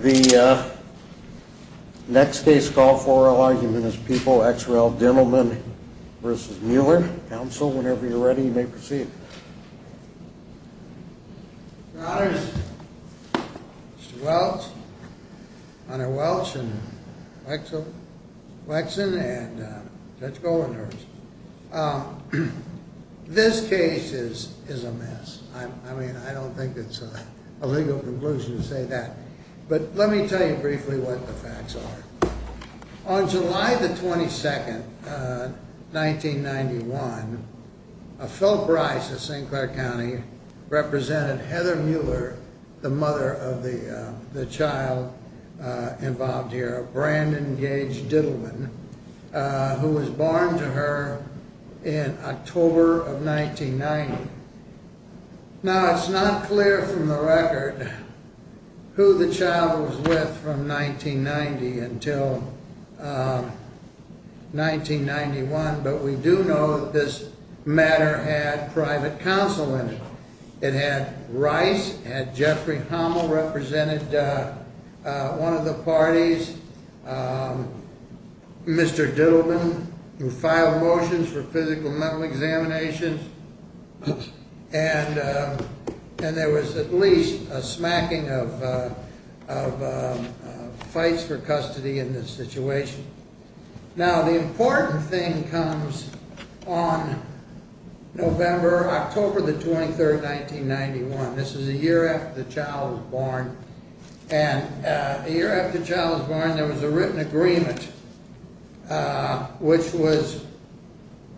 The next case called for argument is People x rel. Dentalman v. Mueller. Counsel, whenever you're ready, you may proceed. Your Honors, Mr. Welch, Honor Welch, Wexson, and Judge Goldner. This case is a mess. I mean, I don't think it's a legal conclusion to say that, but let me tell you briefly what the facts are. On July 22, 1991, Phil Bryce of St. Clair County represented Heather Mueller, the mother of the child involved here, Brandon Gage Dittleman, who was born to her in October of 1990. Now, it's not clear from the record who the child was with from 1990 until 1991, but we do know that this matter had private counsel in it. It had Bryce, it had Jeffrey Hummel represented one of the parties, Mr. Dittleman who filed motions for physical and mental examinations, and there was at least a smacking of fights for custody in this situation. Now, the important thing comes on November, October the 23rd, 1991. This is a year after the child was born, and a year after the child was born, there was a written agreement which was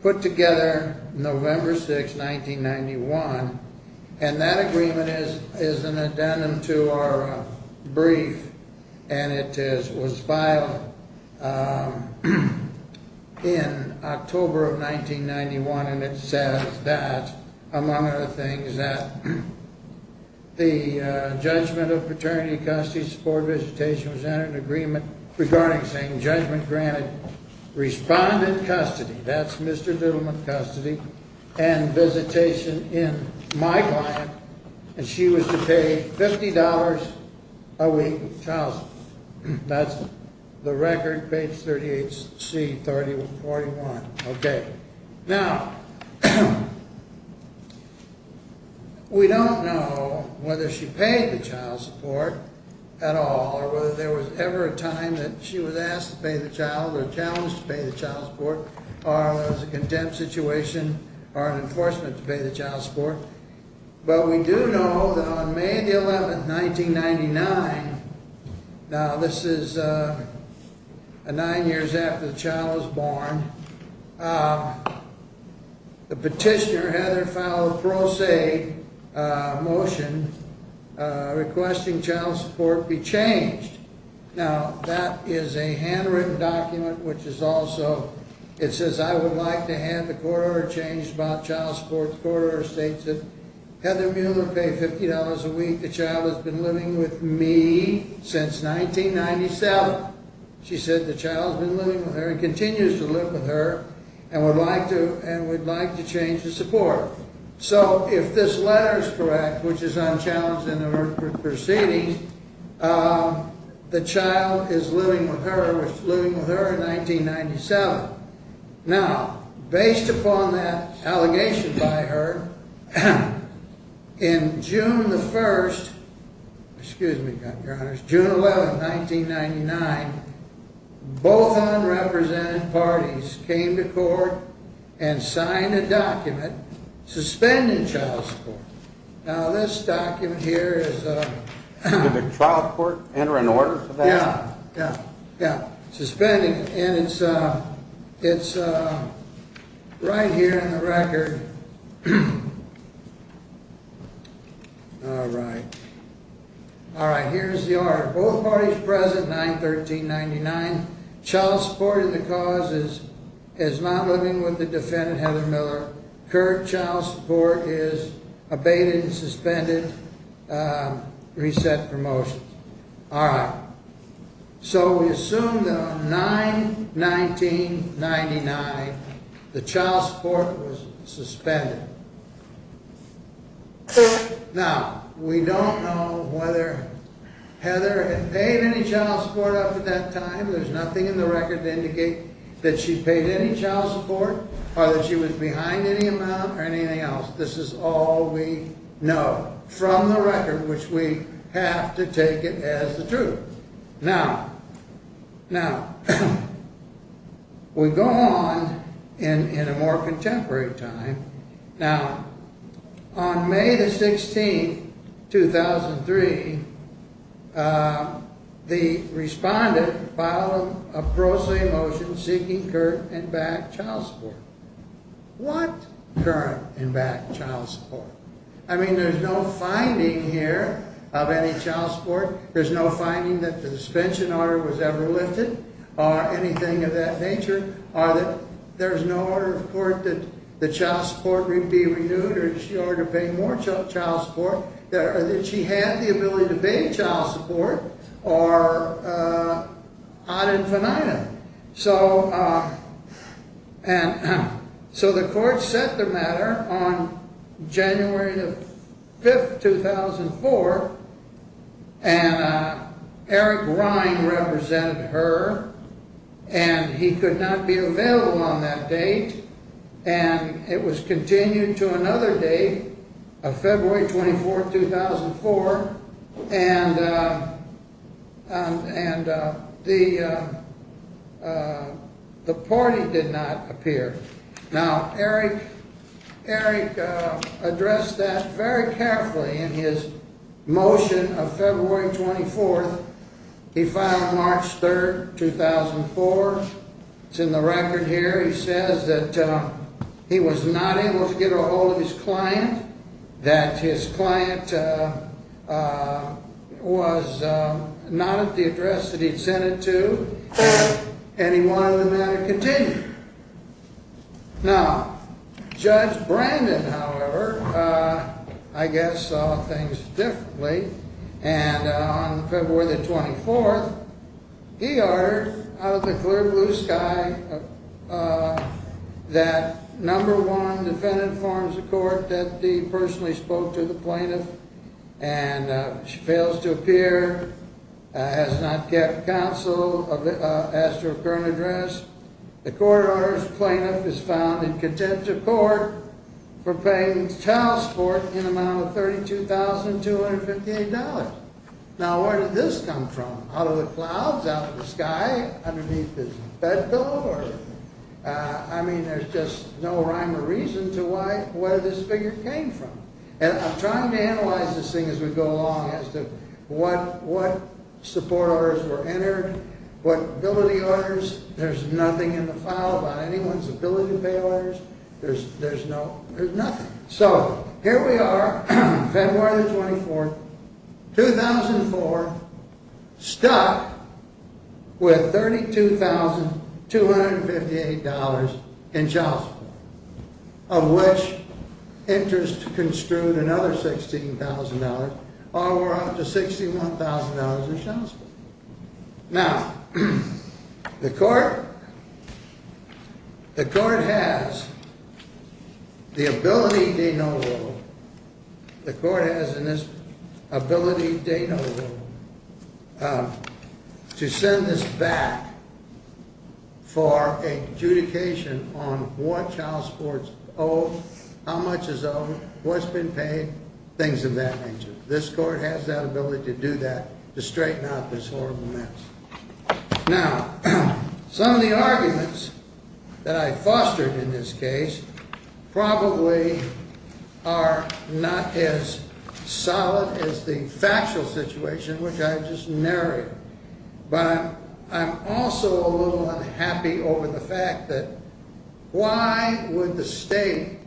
put together November 6, 1991, and that agreement is an addendum to our brief, and it was filed in October of 1991, and it says that, among other things, that the judgment of paternity, custody, support, visitation was entered in agreement regarding saying judgment granted. Now, we don't know whether she paid respondent custody, that's Mr. Dittleman custody, and visitation in my client, and she was to pay $50 a week child support. That's the record, page 38C, 30-41. Now, we don't know whether she paid the child support at all, or whether there was ever a time that she was asked to pay the child, or challenged to pay the child support, or there was a contempt situation, or an enforcement to pay the child support. But we do know that on May the 11th, 1999, now this is nine years after the child was born, the petitioner, Heather, filed a pro se motion requesting child support be changed. Now, that is a handwritten document which is also, it says, I would like to have the court order changed about child support. The court order states that Heather Mueller paid $50 a week, the child has been living with me since 1997. Now, she said the child has been living with her and continues to live with her, and would like to change the support. So, if this letter is correct, which is unchallenged in the proceedings, the child is living with her, was living with her in 1997. Now, based upon that allegation by her, in June the 1st, excuse me, June 11th, 1999, both unrepresented parties came to court and signed a document suspending child support. Now, this document here is... Did the trial court enter an order for that? Yeah, yeah, yeah. Suspending, and it's right here in the record. All right. All right, here's the order. Both parties present, 9-13-99. Child support of the cause is not living with the defendant, Heather Mueller. Current child support is abated and suspended. Reset promotions. All right. So, we assume that on 9-19-99, the child support was suspended. Now, we don't know whether Heather had paid any child support up to that time. There's nothing in the record to indicate that she paid any child support or that she was behind any amount or anything else. This is all we know from the record, which we have to take it as the truth. Now, we go on in a more contemporary time. Now, on May the 16th, 2003, the respondent filed a pro se motion seeking current and back child support. What current and back child support? I mean, there's no finding here of any child support. There's no finding that the suspension order was ever lifted or anything of that nature. There's no order of court that the child support be renewed or that she ought to pay more child support or that she had the ability to pay child support or ad infinitum. So, the court set the matter on January the 5th, 2004, and Eric Ryan represented her, and he could not be available on that date, and it was continued to another date of February 24th, 2004. And the party did not appear. Now, Eric addressed that very carefully in his motion of February 24th. He filed on March 3rd, 2004. It's in the record here. He says that he was not able to get a hold of his client, that his client was not at the address that he'd sent it to, and he wanted the matter continued. Now, Judge Brandon, however, I guess saw things differently, and on February the 24th, he ordered out of the clear blue sky that number one defendant forms a court that he personally spoke to the plaintiff and fails to appear, has not kept counsel, asked her current address. The court orders plaintiff is found in contempt of court for paying child support in amount of $32,258. Now, where did this come from? Out of the clouds, out of the sky, underneath his bed pillow? I mean, there's just no rhyme or reason to where this figure came from. And I'm trying to analyze this thing as we go along as to what support orders were entered, what ability orders. There's nothing in the file about anyone's ability to pay orders. There's nothing. So, here we are, February the 24th, 2004, stuck with $32,258 in child support, of which interest construed another $16,000, or we're up to $61,000 in child support. Now, the court has the ability de novo, the court has in this ability de novo to send this back for adjudication on what child supports owe, how much is owed, what's been paid, things of that nature. This court has that ability to do that, to straighten out this horrible mess. Now, some of the arguments that I fostered in this case probably are not as solid as the factual situation which I've just narrated. But I'm also a little unhappy over the fact that why would the state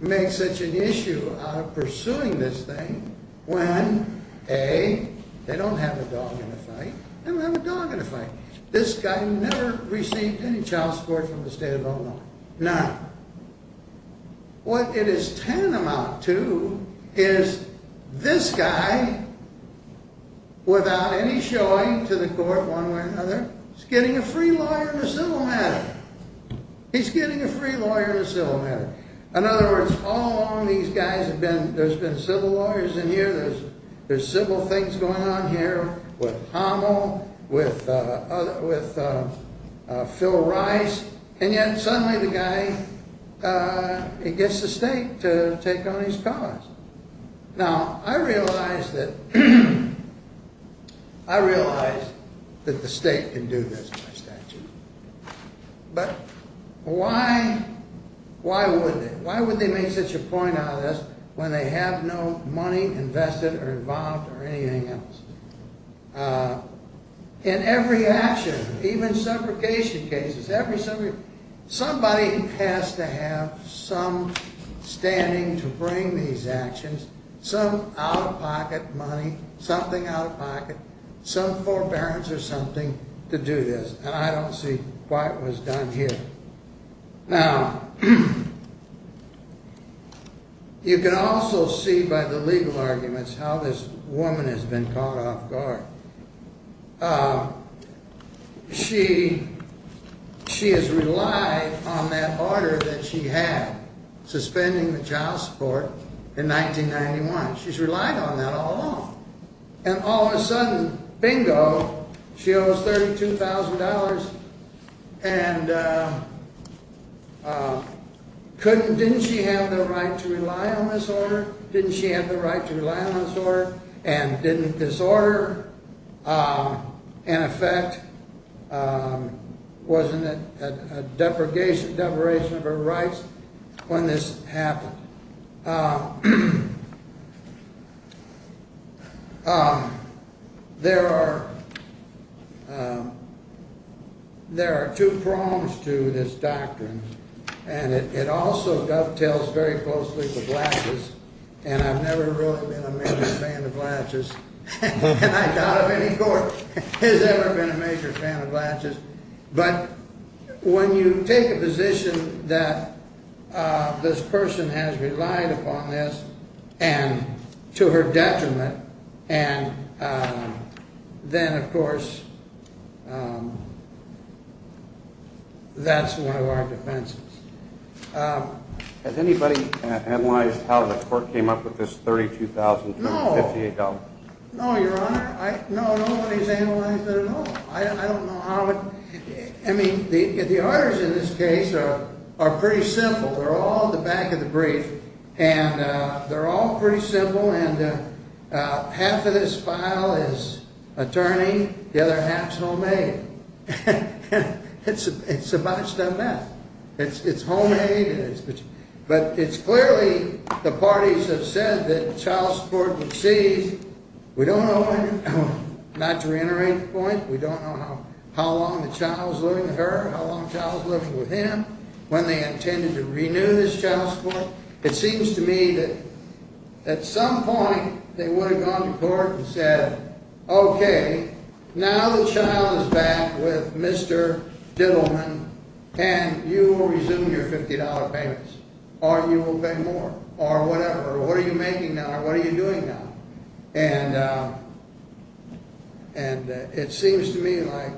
make such an issue out of pursuing this thing when, A, they don't have a dog in a fight. They don't have a dog in a fight. This guy never received any child support from the state of Illinois. Now, what it is tantamount to is this guy, without any showing to the court one way or another, is getting a free lawyer in a civil matter. He's getting a free lawyer in a civil matter. In other words, all along these guys have been, there's been civil lawyers in here, there's civil things going on here with Hamo, with Phil Rice, and yet suddenly the guy, he gets the state to take on his cause. Now, I realize that, I realize that the state can do this by statute. But why, why would they? Why would they make such a point out of this when they have no money invested or involved or anything else? In every action, even suffocation cases, somebody has to have some standing to bring these actions, some out-of-pocket money, something out-of-pocket, some forbearance or something to do this. And I don't see why it was done here. Now, you can also see by the legal arguments how this woman has been caught off guard. She, she has relied on that order that she had, suspending the child support, in 1991. She's relied on that all along. And all of a sudden, bingo, she owes $32,000. And couldn't, didn't she have the right to rely on this order? Didn't she have the right to rely on this order? And didn't this order, in effect, wasn't it a depregation, deprivation of her rights when this happened? Now, there are, there are two prongs to this doctrine. And it also dovetails very closely to Blatches. And I've never really been a major fan of Blatches. And I doubt if any court has ever been a major fan of Blatches. But when you take a position that this person has relied upon this, and to her detriment, and then, of course, that's one of our defenses. Has anybody analyzed how the court came up with this $32,000? No, Your Honor. I, no, nobody's analyzed it at all. I don't know how it, I mean, the orders in this case are, are pretty simple. They're all in the back of the brief. And they're all pretty simple. And half of this file is attorney, the other half's homemade. And it's a, it's a botched up bet. It's, it's homemade. But it's clearly, the parties have said that child support would cease. We don't know when, not to reiterate the point, we don't know how, how long the child's living with her, how long the child's living with him, when they intended to renew this child support. And, and it seems to me like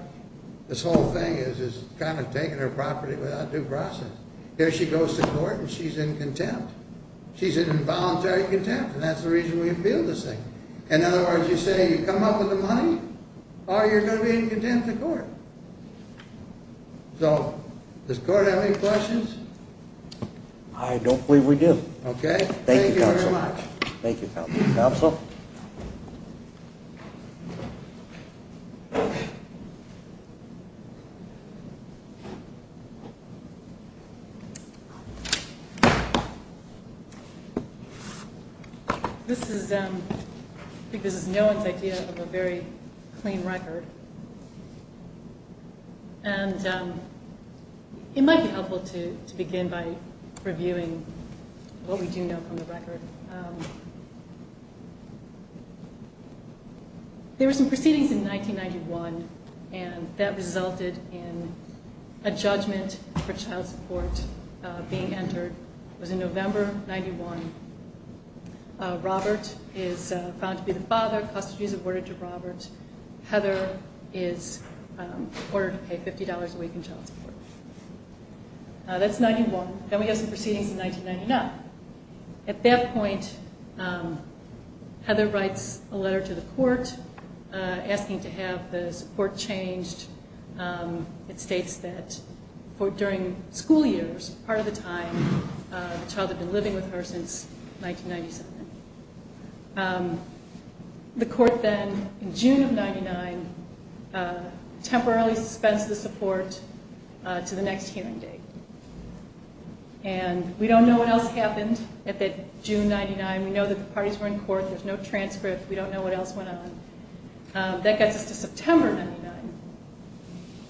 this whole thing is, is kind of taking her property without due process. Here she goes to court and she's in contempt. She's in involuntary contempt, and that's the reason we appeal this thing. In other words, you say you come up with the money, or you're going to be in contempt of court. So, does court have any questions? I don't believe we do. Okay. Thank you very much. Thank you, Counsel. Thank you. There were some proceedings in 1991, and that resulted in a judgment for child support being entered. It was in November, 91. Robert is found to be the father. Custody is awarded to Robert. Heather is ordered to pay $50 a week in child support. That's 91. Then we have some proceedings in 1999. At that point, Heather writes a letter to the court asking to have the support changed. It states that during school years, part of the time, the child had been living with her since 1997. The court then, in June of 99, temporarily suspends the support to the next hearing date. We don't know what else happened at that June 99. We know that the parties were in court. There's no transcript. We don't know what else went on. That gets us to September 99.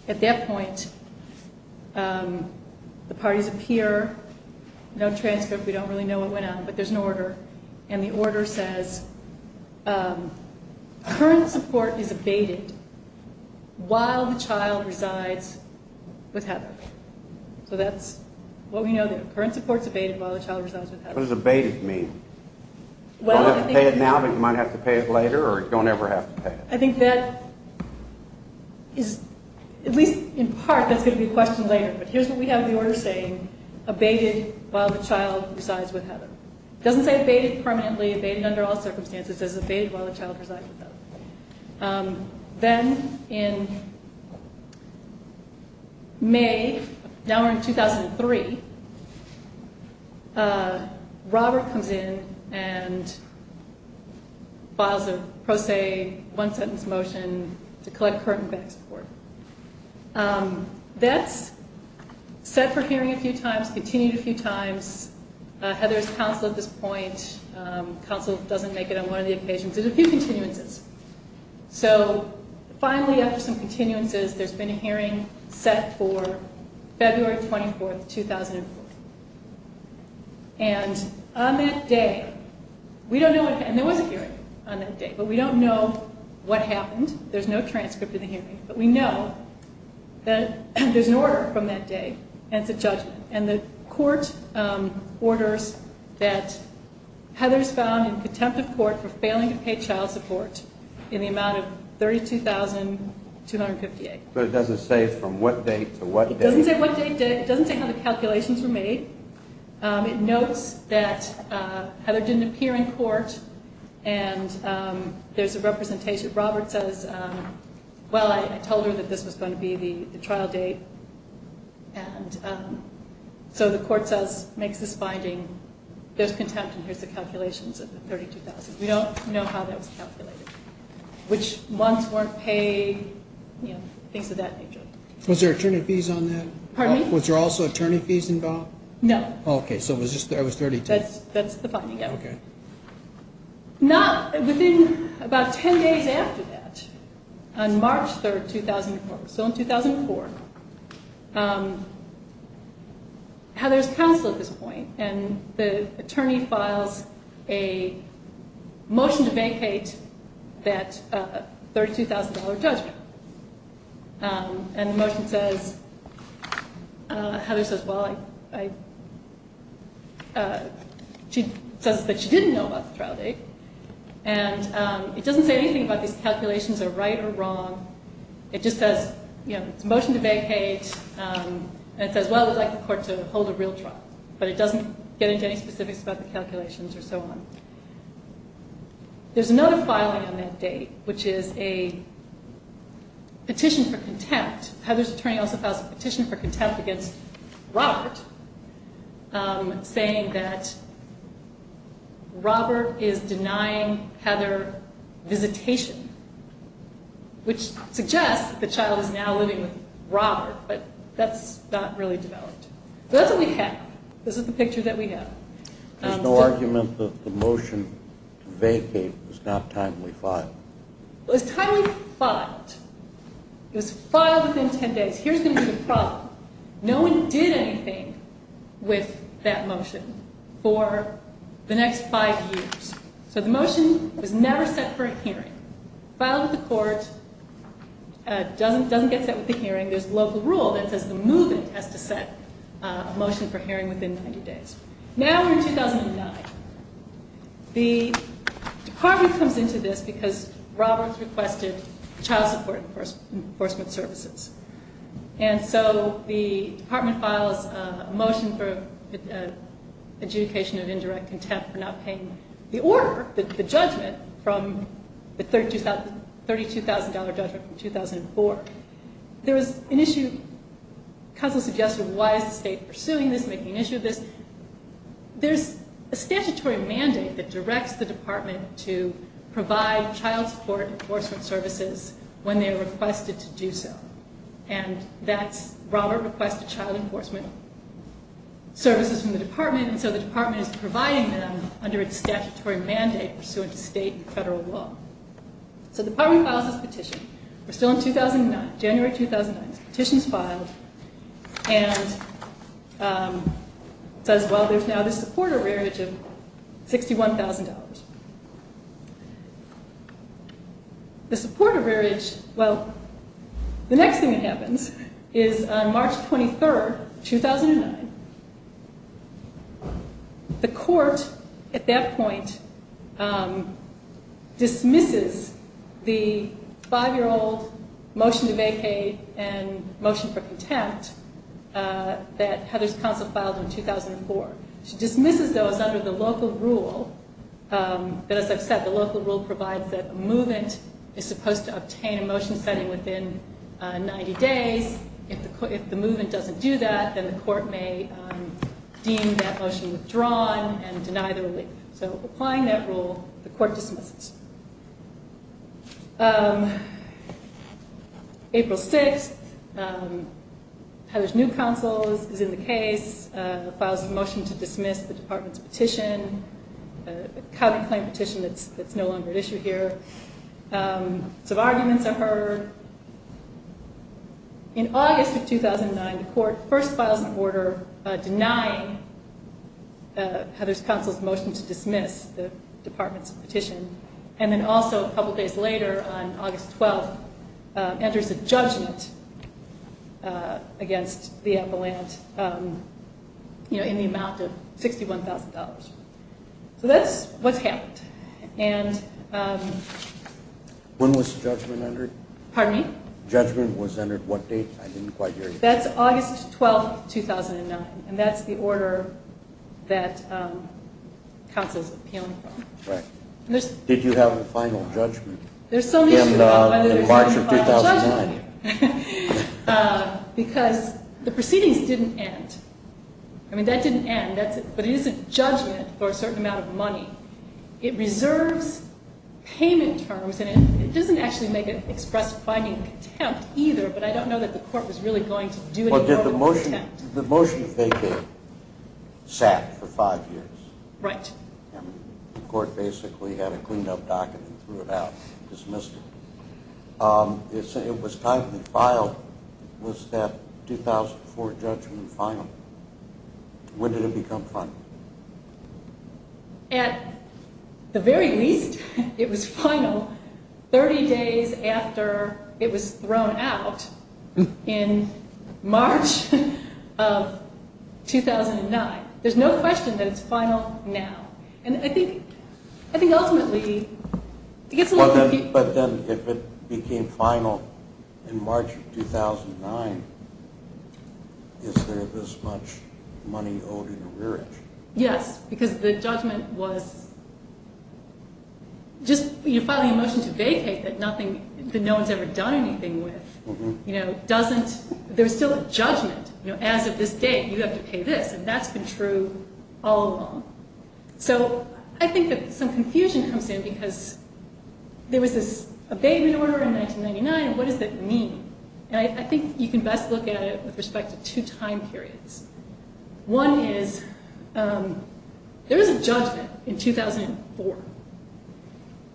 At that point, the parties appear. No transcript. We don't really know what went on. But there's an order. And the order says, current support is abated while the child resides with Heather. So that's what we know. Current support is abated while the child resides with Heather. What does abated mean? Well, I think... You don't have to pay it now, but you might have to pay it later, or you don't ever have to pay it. I think that is, at least in part, that's going to be a question later. But here's what we have in the order saying, abated while the child resides with Heather. It doesn't say abated permanently, abated under all circumstances. It says abated while the child resides with Heather. Then in May, now we're in 2003, Robert comes in and files a pro se one sentence motion to collect current and back support. That's set for hearing a few times, continued a few times. Heather's counsel at this point, counsel doesn't make it on one of the occasions, did a few continuances. So finally, after some continuances, there's been a hearing set for February 24th, 2004. And on that day, we don't know what happened. There was a hearing on that day, but we don't know what happened. There's no transcript in the hearing, but we know that there's an order from that day, and it's a judgment. And the court orders that Heather's found in contempt of court for failing to pay child support in the amount of $32,258. But it doesn't say from what date to what date? It doesn't say what date, it doesn't say how the calculations were made. It notes that Heather didn't appear in court, and there's a representation. Robert says, well, I told her that this was going to be the trial date. And so the court says, makes this finding, there's contempt, and here's the calculations of the $32,258. We don't know how that was calculated, which months weren't paid, things of that nature. Was there attorney fees on that? Pardon me? Was there also attorney fees involved? No. Okay, so it was just, it was $32,258. That's the finding, yeah. Okay. Not, within about 10 days after that, on March 3rd, 2004, so in 2004, Heather's counsel at this point, and the attorney files a motion to vacate that $32,000 judgment. And the motion says, Heather says, well, I, she says that she didn't know about the trial date. And it doesn't say anything about these calculations are right or wrong. It just says, you know, it's a motion to vacate, and it says, well, we'd like the court to hold a real trial, but it doesn't get into any specifics about the calculations or so on. There's another filing on that date, which is a petition for contempt. Heather's attorney also files a petition for contempt against Robert, saying that Robert is denying Heather visitation, which suggests that the child is now living with Robert, but that's not really developed. So that's what we have. This is the picture that we have. There's no argument that the motion to vacate was not timely filed? It was timely filed. It was filed within 10 days. Here's going to be the problem. No one did anything with that motion for the next five years. So the motion was never set for a hearing. Filed with the court. Doesn't get set with the hearing. There's a local rule that says the move-in has to set a motion for hearing within 90 days. Now we're in 2009. The department comes into this because Robert's requested child support enforcement services. And so the department files a motion for adjudication of indirect contempt for not paying the order, the judgment, from the $32,000 judgment from 2004. There was an issue. Counsel suggested why is the state pursuing this, making an issue of this? There's a statutory mandate that directs the department to provide child support enforcement services when they're requested to do so. And that's Robert requested child enforcement services from the department, and so the department is providing them under its statutory mandate pursuant to state and federal law. So the department files this petition. We're still in 2009, January 2009. Petition's filed. And it says, well, there's now this support arrearage of $61,000. The support arrearage, well, the next thing that happens is on March 23, 2009, the court at that point dismisses the 5-year-old motion to vacate and motion for contempt that Heather's counsel filed in 2004. She dismisses those under the local rule that, as I've said, the local rule provides that a movement is supposed to obtain a motion setting within 90 days. If the movement doesn't do that, then the court may deem that motion withdrawn and deny the relief. So applying that rule, the court dismisses. April 6th, Heather's new counsel is in the case, files a motion to dismiss the department's petition, a county claim petition that's no longer at issue here. Some arguments are heard. In August of 2009, the court first files an order denying Heather's counsel's motion to dismiss the department's petition. And then also a couple days later on August 12th, enters a judgment against the appellant in the amount of $61,000. So that's what's happened. When was the judgment entered? Pardon me? Judgment was entered what date? I didn't quite hear you. That's August 12th, 2009, and that's the order that counsel's appealing from. Right. Did you have a final judgment? There's some issue about whether there's a final judgment. In March of 2009. Because the proceedings didn't end. It reserves payment terms, and it doesn't actually make it express finding contempt either, but I don't know that the court was really going to do it. Well, did the motion they gave sat for five years? Right. And the court basically had a cleaned-up docket and threw it out, dismissed it. It was timely filed. Was that 2004 judgment final? When did it become final? At the very least, it was final 30 days after it was thrown out in March of 2009. There's no question that it's final now. But then if it became final in March of 2009, is there this much money owed in arrearage? Yes, because the judgment was just you file a motion to vacate that no one's ever done anything with. There's still a judgment. As of this date, you have to pay this, and that's been true all along. So I think that some confusion comes in because there was this abatement order in 1999. What does that mean? And I think you can best look at it with respect to two time periods. One is there is a judgment in 2004,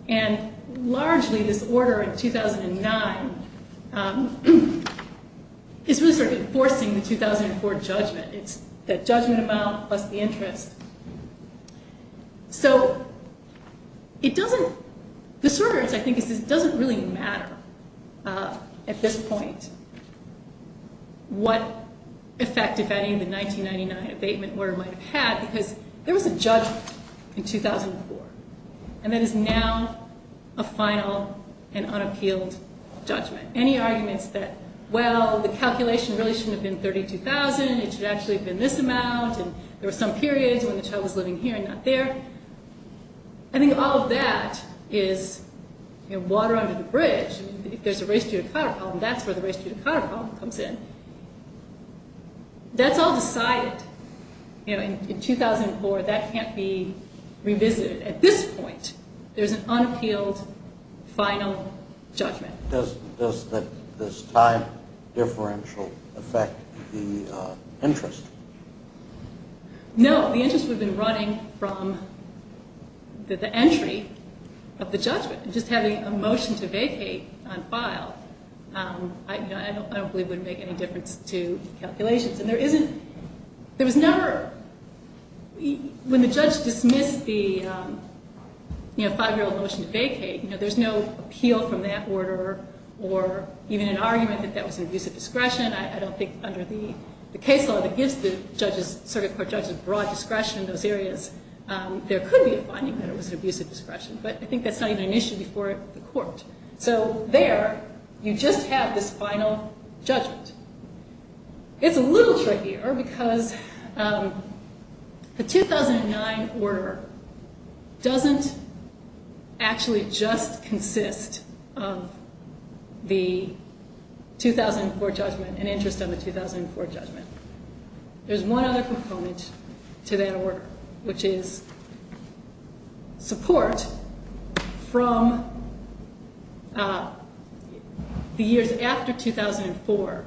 and largely this order in 2009 is really sort of enforcing the 2004 judgment. It's the judgment amount plus the interest. So it doesn't, this order, I think, doesn't really matter at this point what effect, if any, the 1999 abatement order might have had because there was a judgment in 2004, and that is now a final and unappealed judgment. Any arguments that, well, the calculation really shouldn't have been $32,000, it should actually have been this amount, and there were some periods when the child was living here and not there, I think all of that is water under the bridge. If there's a race-judicata problem, that's where the race-judicata problem comes in. That's all decided. In 2004, that can't be revisited. At this point, there's an unappealed final judgment. Does this time differential affect the interest? No. The interest would have been running from the entry of the judgment. Just having a motion to vacate on file I don't believe would make any difference to calculations. And there isn't, there was never, when the judge dismissed the five-year-old motion to vacate, there's no appeal from that order or even an argument that that was an abuse of discretion. I don't think under the case law that gives the circuit court judges broad discretion in those areas, there could be a finding that it was an abuse of discretion, but I think that's not even an issue before the court. So there, you just have this final judgment. It's a little trickier because the 2009 order doesn't actually just consist of the 2004 judgment, an interest on the 2004 judgment. There's one other component to that order, which is support from the years after 2004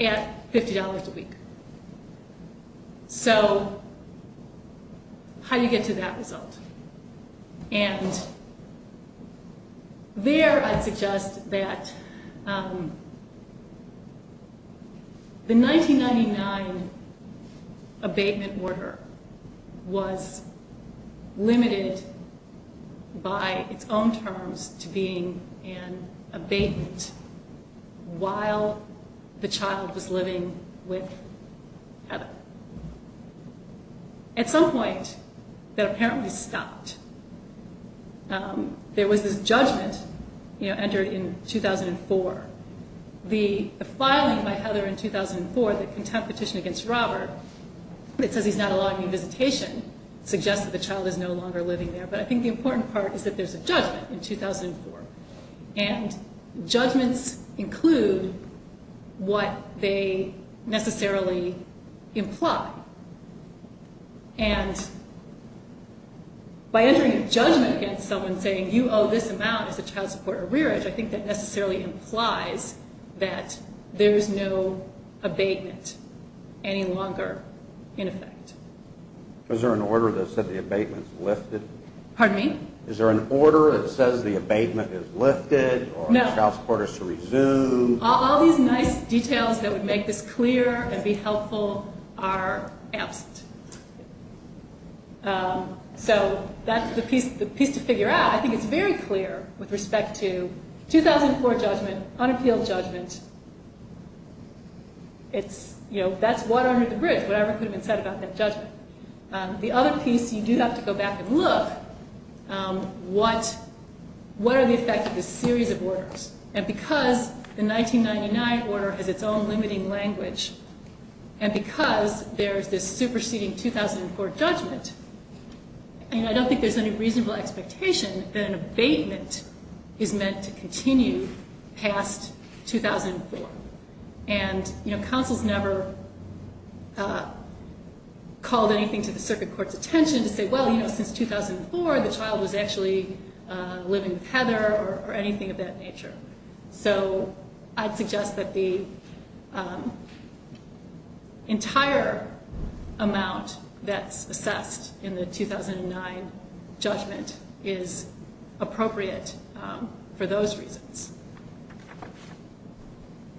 at $50 a week. So how do you get to that result? And there I'd suggest that the 1999 abatement order was limited by its own terms to being an abatement while the child was living with Heather. At some point that apparently stopped, there was this judgment entered in 2004. The filing by Heather in 2004, the contempt petition against Robert that says he's not allowed any visitation suggests that the child is no longer living there, but I think the important part is that there's a judgment in 2004. And judgments include what they necessarily imply. And by entering a judgment against someone saying you owe this amount as a child support arrearage, I think that necessarily implies that there's no abatement any longer in effect. Is there an order that said the abatement's lifted? Pardon me? Is there an order that says the abatement is lifted or the child support is to resume? No. All these nice details that would make this clear and be helpful are absent. So that's the piece to figure out. I think it's very clear with respect to 2004 judgment, unappealed judgment. That's water under the bridge, whatever could have been said about that judgment. The other piece you do have to go back and look, what are the effects of this series of orders? And because the 1999 order has its own limiting language, and because there's this superseding 2004 judgment, I don't think there's any reasonable expectation that an abatement is meant to continue past 2004. And counsel's never called anything to the circuit court's attention to say, well, since 2004 the child was actually living with Heather or anything of that nature. So I'd suggest that the entire amount that's assessed in the 2009 judgment is appropriate for those reasons.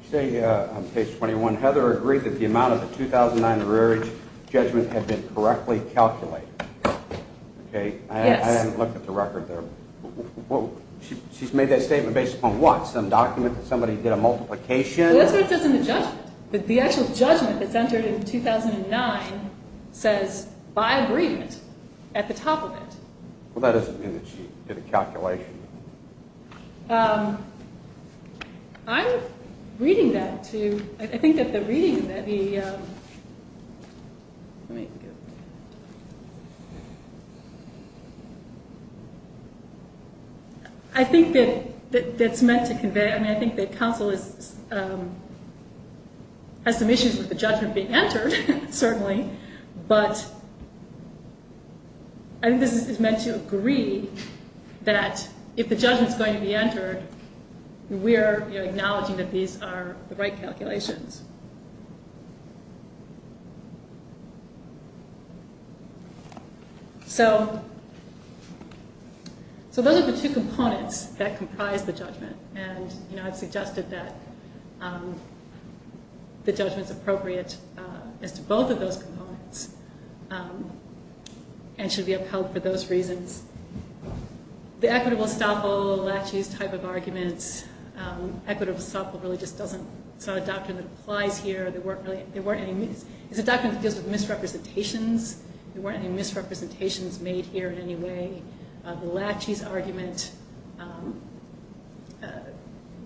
You say on page 21, Heather agreed that the amount of the 2009 judgment had been correctly calculated. Okay. Yes. I haven't looked at the record there. She's made that statement based upon what? Some document that somebody did a multiplication? That's what it says in the judgment. The actual judgment that's entered in 2009 says, by agreement, at the top of it. Well, that doesn't mean that she did a calculation. Okay. I'm reading that to you. I think that the reading that the ‑‑ I think that that's meant to convey ‑‑ I mean, I think that counsel has some issues with the judgment being entered, certainly, but I think this is meant to agree that if the judgment is going to be entered, we're acknowledging that these are the right calculations. So those are the two components that comprise the judgment, and I've suggested that the judgment's appropriate as to both of those components and should be upheld for those reasons. The equitable estoppel, Lachey's type of argument, equitable estoppel really just doesn't ‑‑ it's not a doctrine that applies here. There weren't any ‑‑ it's a doctrine that deals with misrepresentations. There weren't any misrepresentations made here in any way. The Lachey's argument,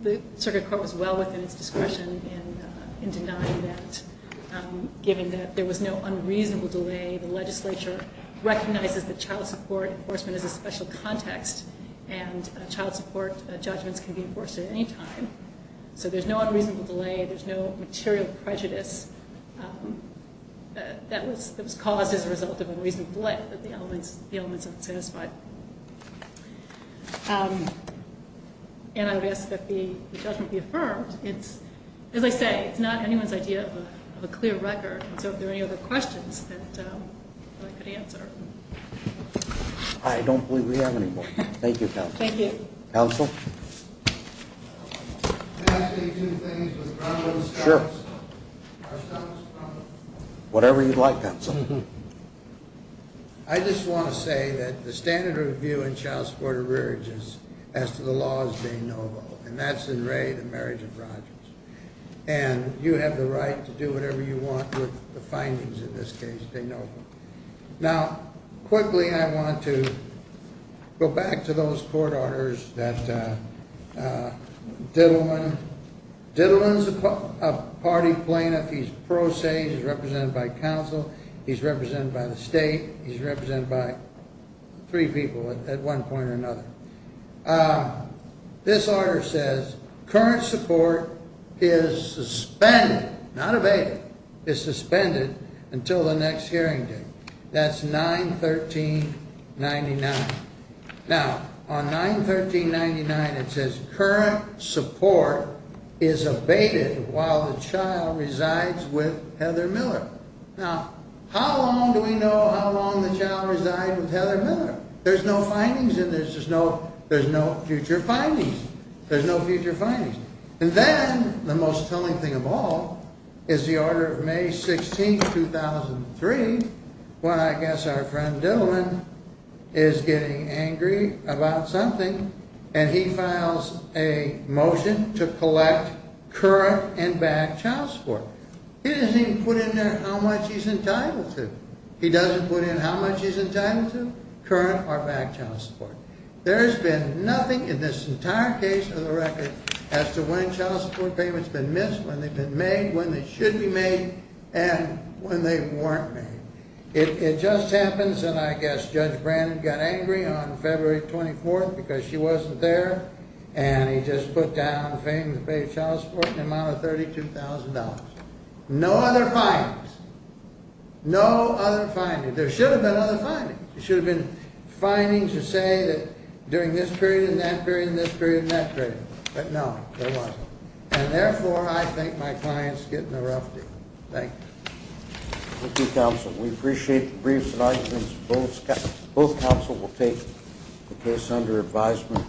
the circuit court was well within its discretion in denying that, given that there was no unreasonable delay. The legislature recognizes that child support enforcement is a special context and child support judgments can be enforced at any time. So there's no unreasonable delay. There's no material prejudice that was caused as a result of unreasonable delay, but the element's unsatisfied. And I would ask that the judgment be affirmed. It's, as I say, it's not anyone's idea of a clear record, so if there are any other questions that I could answer. I don't believe we have any more. Thank you, counsel. Thank you. Counsel? Can I say two things with ground rules? Sure. Whatever you'd like, counsel. I just want to say that the standard of view in child support arrearages as to the law is de novo, and that's in Ray, the marriage of Rogers. And you have the right to do whatever you want with the findings in this case, de novo. Now, quickly I want to go back to those court orders that Diddleman, Diddleman's a party plaintiff. He's pro se. He's represented by counsel. He's represented by the state. He's represented by three people at one point or another. This order says current support is suspended, not evaded, is suspended until the next hearing date. That's 9-13-99. Now, on 9-13-99, it says current support is evaded while the child resides with Heather Miller. Now, how long do we know how long the child resides with Heather Miller? There's no findings in this. There's no future findings. There's no future findings. And then the most telling thing of all is the order of May 16, 2003, when I guess our friend Diddleman is getting angry about something, and he files a motion to collect current and back child support. He doesn't even put in there how much he's entitled to. He doesn't put in how much he's entitled to, current or back child support. There has been nothing in this entire case of the record as to when child support payments have been missed, when they've been made, when they should be made, and when they weren't made. It just happens, and I guess Judge Brandon got angry on February 24th because she wasn't there, and he just put down payments to pay child support in the amount of $32,000. No other findings. No other findings. There should have been other findings. There should have been findings to say that during this period and that period and this period and that period. But no, there wasn't. And therefore, I think my client's getting the rough deal. Thank you. Thank you, counsel. We appreciate the briefs and arguments. Both counsel will take the case under advisement.